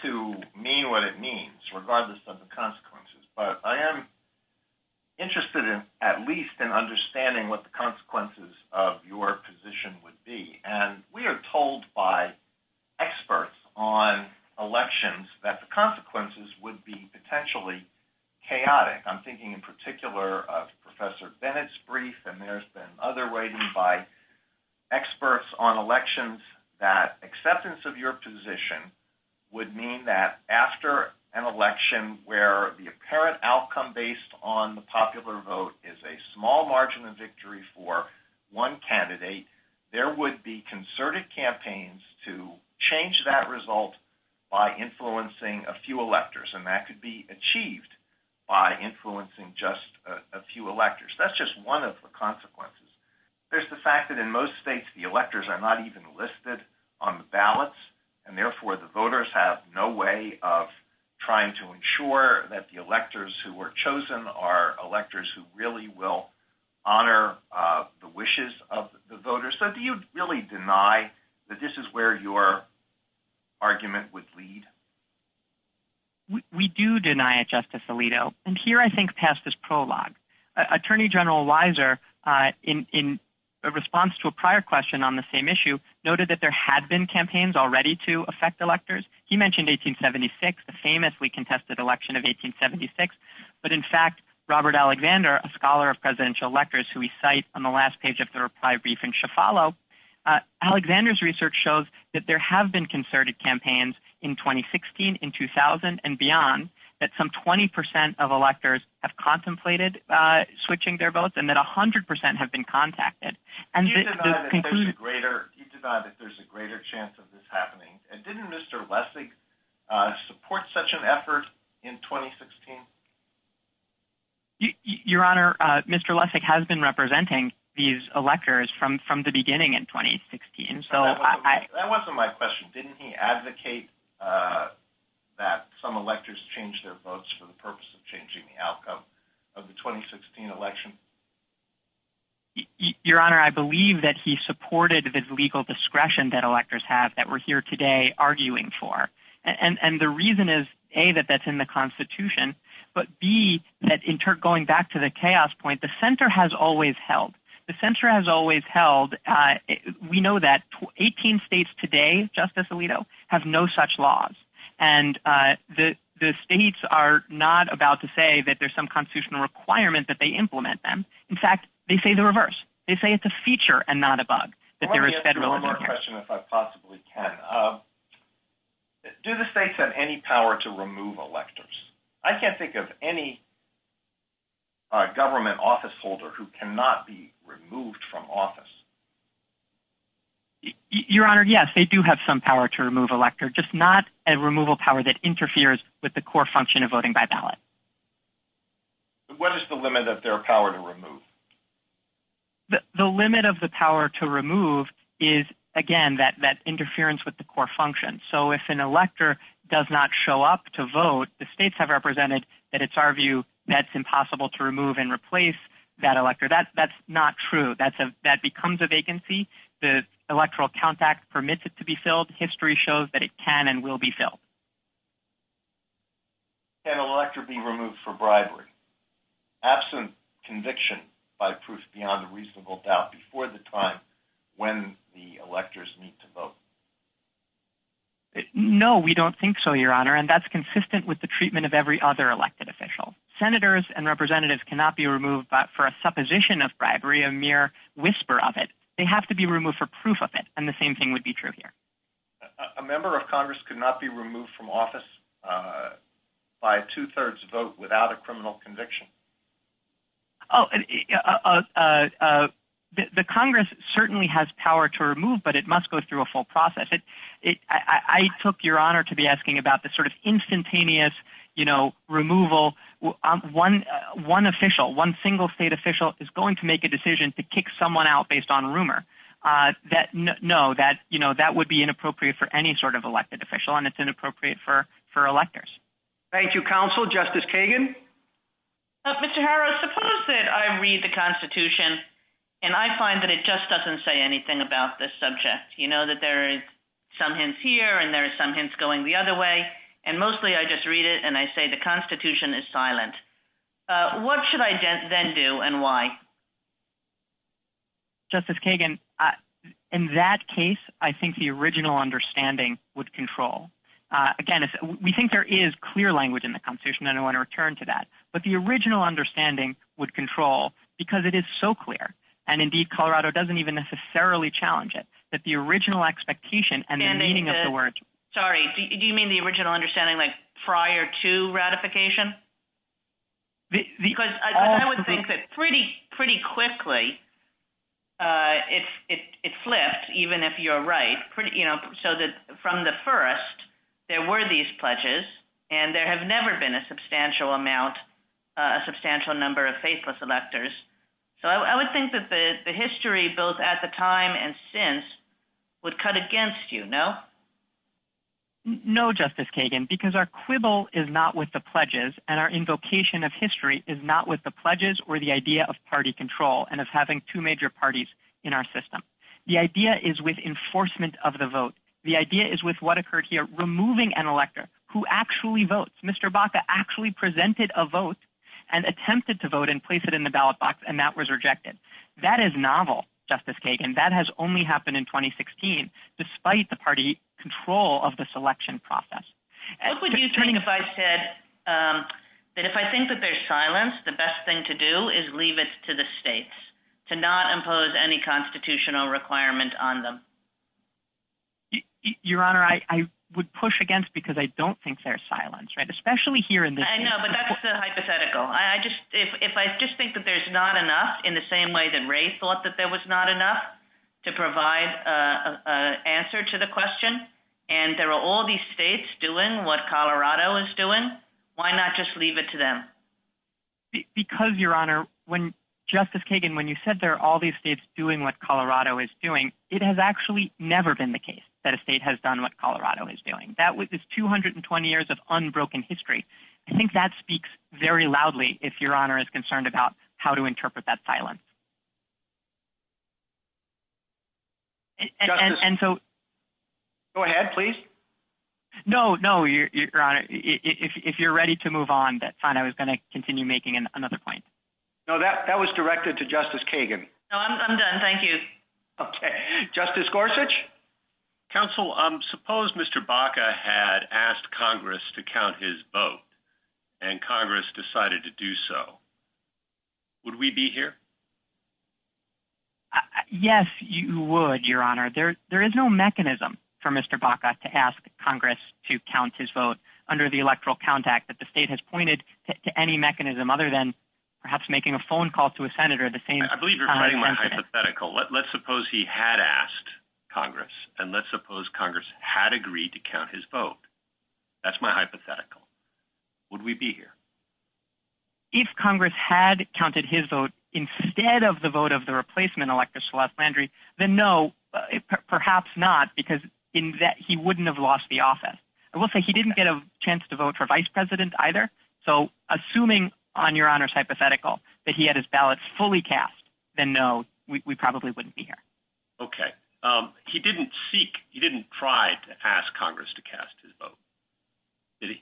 to mean what it means regardless of the consequences, but I am interested in at least in understanding what the consequences of your position would be. And we are told by experts on elections that the consequences would be potentially chaotic. I'm thinking in particular of Professor Bennett's brief and there's been other writing by experts on elections that acceptance of your position would mean that after an election where the apparent outcome based on the popular vote is a small margin of victory for one candidate, there would be concerted campaigns to change that result by influencing a few electors, and that could be achieved by influencing just a few electors. That's just one of the consequences. There's the fact that in most states the electors are not even listed on the ballots and therefore the voters have no way of trying to ensure that the electors who were chosen are electors who really will honor the wishes of the voters. So do you really deny that this is where your argument would lead? We do deny it, but we do have a very strong argument against this aledo. And here I think past this prologue, Attorney General Weiser in response to a prior question on the same issue, noted that there had been campaigns already to affect electors. He mentioned 1876, the famously contested election of 1876. But in fact, Robert Alexander, a scholar of presidential electors who we cite on the last page of the reply brief in Shafalo, Alexander's research shows that there have been concerted campaigns in 2016, in 2000, and beyond, that some 20% of electors have contemplated switching their votes and that 100% have been contacted. Do you deny that there's a greater chance of this happening? And didn't Mr. Lessig support such an effort in 2016? Your Honor, Mr. Lessig has been representing these in 2016. That wasn't my question. Didn't he advocate that some electors change their votes for the purpose of changing the outcome of the 2016 election? Your Honor, I believe that he supported the legal discretion that electors have that we're here today arguing for. And the reason is, A, that that's in the Constitution, but B, going back to the chaos point, the Center has always held we know that 18 states today, Justice Alito, have no such laws. And the states are not about to say that there's some constitutional requirement that they implement them. In fact, they say the reverse. They say it's a feature and not a bug. Let me ask you one more question if I possibly can. Do the states have any power to remove electors? I can't think of any government office holder who cannot be removed from office. Your Honor, yes, they do have some power to remove electors, just not a removal power that interferes with the core function of voting by ballot. What is the limit of their power to remove? The limit of the power to remove is, again, that interference with the core function. So if an elector does not show up to vote, the states have represented that it's our view that it's impossible to remove an elector. That's not true. That becomes a vacancy. The Electoral Count Act permits it to be filled. History shows that it can and will be filled. Can an elector be removed for bribery, absent conviction by proof beyond reasonable doubt before the time when the electors need to vote? No, we don't think so, Your Honor. And that's consistent with the treatment of every other elected official. Senators and representatives cannot be removed for a supposition of bribery, a mere whisper of it. They have to be removed for proof of it, and the same thing would be true here. A member of Congress could not be removed from office by a two-thirds vote without a criminal conviction? Oh, the Congress certainly has power to remove, but it must go through a full process. I took Your Honor to be asking about the sort of instantaneous removal. One official, one single state official is going to make a decision to kick someone out based on rumor. No, that would be inappropriate for any sort of elected official, and it's inappropriate for electors. Thank you, Counsel. Justice Kagan? Mr. Harrow, suppose that I read the Constitution and I find that it just doesn't say anything about this subject. You know that there are some hints here and there are some hints going the other way, and mostly I just read it and I say the Constitution is silent. What should I then do and why? Justice Kagan, in that case, I think the original understanding would control. Again, we think there is clear language in the Constitution, and I want to return to that, but the original understanding would control because it is so clear, and indeed Colorado doesn't even necessarily challenge it, that the original expectation and the meaning of the word. Sorry, do you mean the original understanding like prior to ratification? Because I would think that pretty quickly it flipped, even if you're right. From the first, there were these pledges, and there have never been a substantial amount, a substantial number of faithless electors. So I would think that the history, both at the time and since, would cut against you, no? No, Justice Kagan, because our quibble is not with the pledges, and our invocation of history is not with the pledges or the idea of party control and of having two major parties in our system. The idea is with enforcement of the vote. The idea is with what occurred here, removing an elector who actually votes. Mr. Baca actually presented a vote and attempted to vote and place it in the ballot box, and that was rejected. That is novel, Justice Kagan. That has only happened in 2016 despite the party control of the selection process. What would you think if I said that if I think that there's silence, the best thing to do is leave it to the states, to not impose any constitutional requirement on them? Your Honor, I would push against because I don't think there's silence, especially here in this... I know, but that's a hypothetical. If I just think that there's not enough in the same way that Ray thought that there was not enough to provide an answer to the question, and there are all these states doing what Colorado is doing, why not just leave it to them? Because, Your Honor, when Justice Kagan, when you said there are all these states doing what Colorado is doing, it has actually never been the case that a state has done what Colorado is doing. That is 220 years of unbroken history. I think that speaks very loudly if Your Honor is concerned about how to interpret that silence. Go ahead, please. No, no, Your Honor, if you're ready to move on, that's fine. I was going to continue making another point. That was directed to Justice Kagan. I'm done. Thank you. Justice Gorsuch? Counsel, suppose Mr. Baca had asked Congress to count his vote, and Congress decided to do so. Would we be here? Yes, you would, Your Honor. There is no mechanism for Mr. Baca to ask Congress to count his vote under the Electoral Count Act, but the state has pointed to any mechanism other than perhaps making a phone call to a senator at the same time. I believe you're citing my hypothetical. Let's suppose he had asked Congress, and let's suppose Congress had agreed to count his vote under the Electoral Count Act. Would we be here? If Congress had counted his vote instead of the vote of the replacement elector, Sholas Landry, then no, perhaps not, because he wouldn't have lost the office. I will say he didn't get a chance to vote for vice president either, so assuming, on Your Honor's hypothetical, that he had his ballots fully cast, then no, we probably wouldn't be here. Okay. He didn't seek, he didn't try to ask Congress to cast his vote. Did he?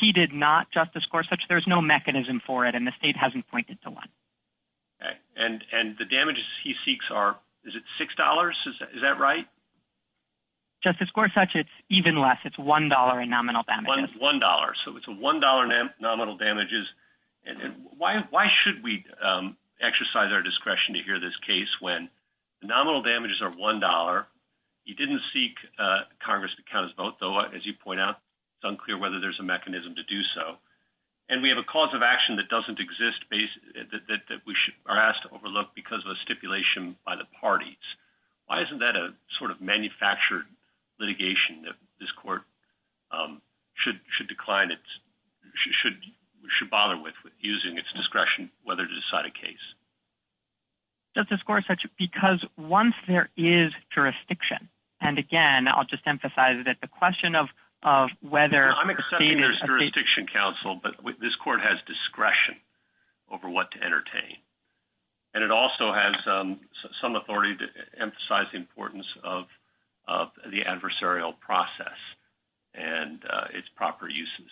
He did not, Justice Gorsuch. There's no mechanism for it, and the state hasn't pointed to one. And the damages he seeks are, is it $6? Is that right? Justice Gorsuch, it's even less. It's $1 in nominal damages. $1, so it's $1 in nominal damages. Why should we exercise our discretion to hear this case when the nominal damages are $1, he didn't seek Congress to count his vote, though, as you point out, it's unclear whether there's a mechanism to do so. And we have a cause of action that doesn't exist, that we are asked to overlook because of a stipulation by the parties. Why isn't that a sort of manufactured litigation that this court should decline, should bother with, using its discretion, whether to decide a case? Justice Gorsuch, because once there is jurisdiction, and again, I'll just emphasize that the question of whether I'm accepting there's jurisdiction counsel, but this court has discretion over what to entertain. And it also has of the adversarial process and its proper uses.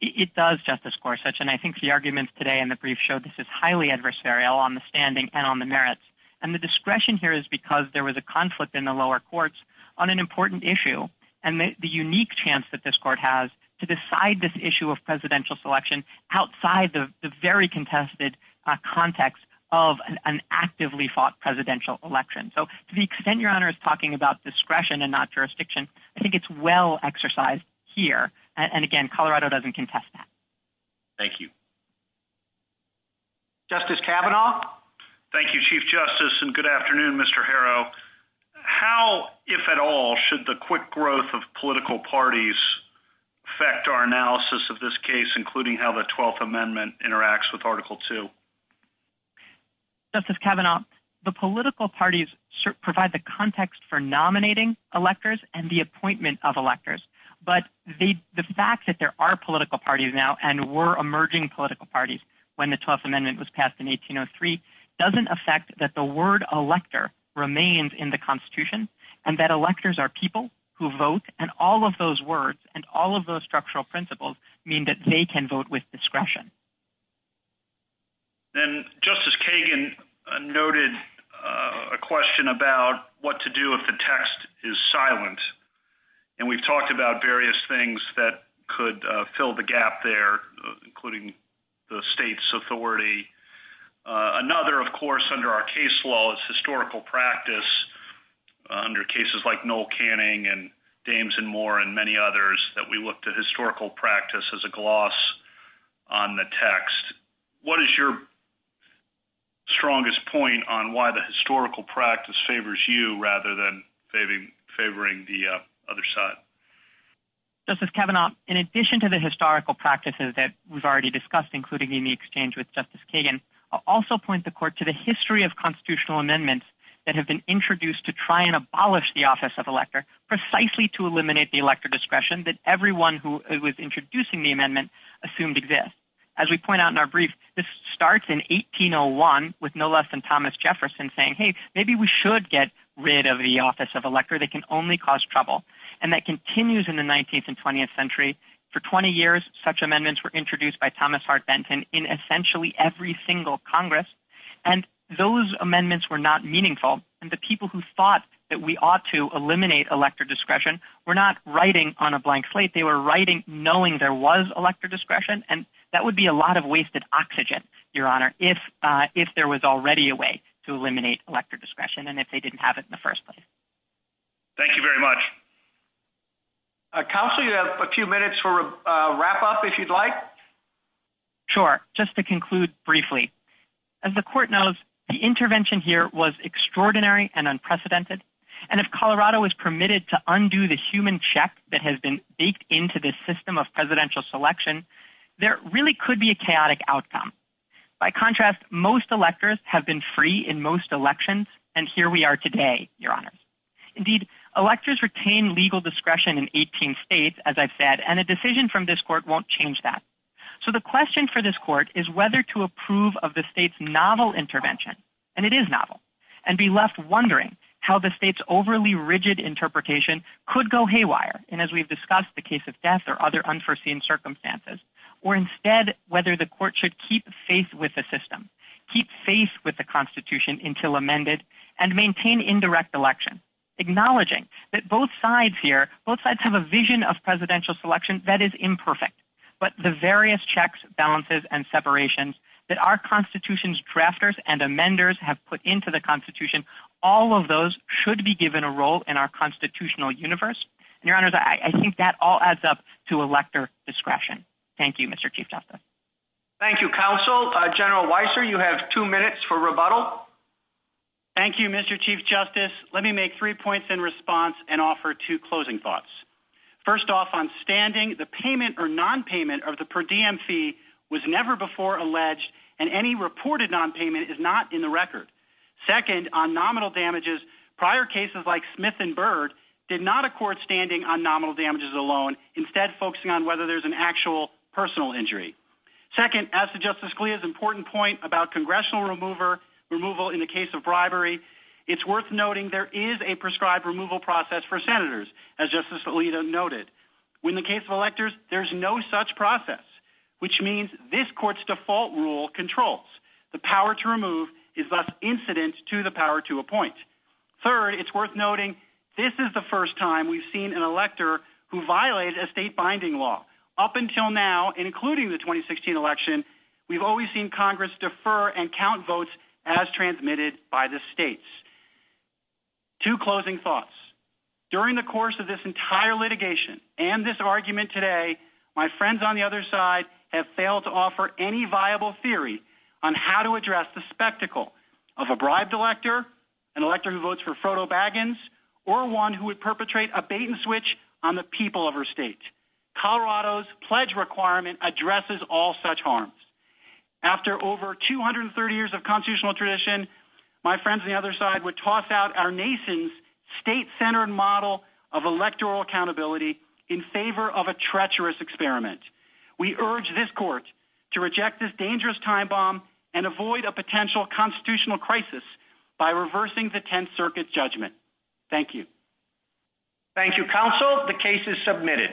It does, Justice Gorsuch, discretion. I think the arguments today in the brief show this is highly adversarial on the standing and on the merits. And the discretion here is because there was a conflict in the lower courts on an important issue, and the unique chance that this court has to decide this issue of presidential selection outside the very contested context of an actively fought presidential election. So to the extent Your Honor is talking about discretion and not jurisdiction, I think it's well exercised here. And again, Colorado doesn't contest that. Thank you. Justice Kavanaugh? Thank you, Chief Justice, and good afternoon, Mr. Harrow. How, if at all, should the quick growth of political parties affect our analysis of this case, including how the 12th Amendment interacts with Article II? Justice Kavanaugh, the political parties provide the context for nominating electors and the appointment of electors. But the fact that there are political parties now and were emerging political parties when the 12th Amendment was passed in 1803 doesn't affect that the word elector remains in the Constitution and that electors are people who vote, and all of those words and all of those structural principles mean that they can vote with discretion. And Justice Kagan noted a question about what to do if the text is silent. And we've talked about various things that could fill the gap there, including the state's authority. Another, of course, under our case law is historical practice. Under cases like Noel Canning and Dames and Moore and many others that we looked at historical practice as a gloss on the text. What is your strongest point on why the historical practice favors you rather than favoring the other side? Justice Kavanaugh, in addition to the historical practices that we've already discussed, including in the exchange with Justice Kagan, I'll also point the Court to the history of constitutional amendments that have been introduced to try and abolish the office of elector, precisely to eliminate the elector discretion that everyone who was introducing the amendment assumed exists. As we point out in our brief, this starts in 1801 with no less than Thomas Jefferson saying, hey, maybe we should get rid of the office of elector. They can only cause trouble. And that continues in the 19th and 20th century. For 20 years, such amendments were introduced by Thomas Hart Benton in essentially every single Congress. And those amendments were not meaningful. And the people who thought that we ought to eliminate elector discretion were not writing on a blank slate. They were writing knowing there was elector discretion. And that would be a lot of wasted oxygen, Your Honor, if there was already a way to eliminate elector discretion and if they didn't have it in the first place. Thank you very much. Counsel, you have a few minutes for a wrap-up, if you'd like. Sure. Just to conclude briefly, as the Court knows, the intervention here was extraordinary and unprecedented. And if you look at the ongoing check that has been baked into this system of presidential selection, there really could be a chaotic outcome. By contrast, most electors have been free in most elections, and here we are today, Your Honor. Indeed, electors retain legal discretion in 18 states, as I've said, and a decision from this Court won't change that. So the question for this Court is whether to approve of the state's novel intervention, and it is novel, and be left wondering how the state's overly rigid interpretation could go haywire, and as we've discussed, the case of death or other unforeseen circumstances, or instead whether the Court should keep faith with the system, keep faith with the Constitution until amended, and maintain indirect election, acknowledging that both sides here, both sides have a vision of presidential selection that is imperfect, but the various checks, balances, and separations that our Constitution's drafters and amenders have put into the Constitution, all of those should be given a role in our constitutional universe, and, Your Honor, I think that all adds up to elector discretion. Thank you, Mr. Chief Justice. Thank you, Counsel. General Weiser, you have two minutes for rebuttal. Thank you, Mr. Chief Justice. Let me make three points in response and offer two closing thoughts. First off, on standing, the payment or nonpayment of the per diem fee was never before alleged, and any reported nonpayment is not in the record. Second, on nominal damages, prior cases like Smith and Byrd did not accord standing on nominal damages alone, instead focusing on whether there's an actual personal injury. Second, as to Justice Scalia's important point about congressional removal in the case of bribery, it's worth noting there is a prescribed removal process for Senators, as Justice Alito noted. In the case of electors, there's no such process, which means this Court's default rule controls. The power to remove is thus incident to the power to appoint. Third, it's worth noting this is the first time we've seen an elector who violated a state binding law. Up until now, including the 2016 election, we've always seen Congress defer and count votes as transmitted by the states. Two closing thoughts. During the course of this entire litigation and this argument today, my friends on the other side have failed to offer any viable theory on how to address the spectacle of a bribed elector, an elector who votes for Frodo Baggins, or one who would perpetrate a bait-and-switch on the people of our state. Colorado's pledge requirement addresses all such harms. After over 230 years of constitutional tradition, my friends on the other side would toss out our nation's state-centered model of electoral accountability in favor of a treacherous experiment. We urge this court to reject this dangerous time bomb and avoid a potential constitutional crisis by reversing the Tenth Circuit's judgment. Thank you. Thank you, Counsel. The case is submitted.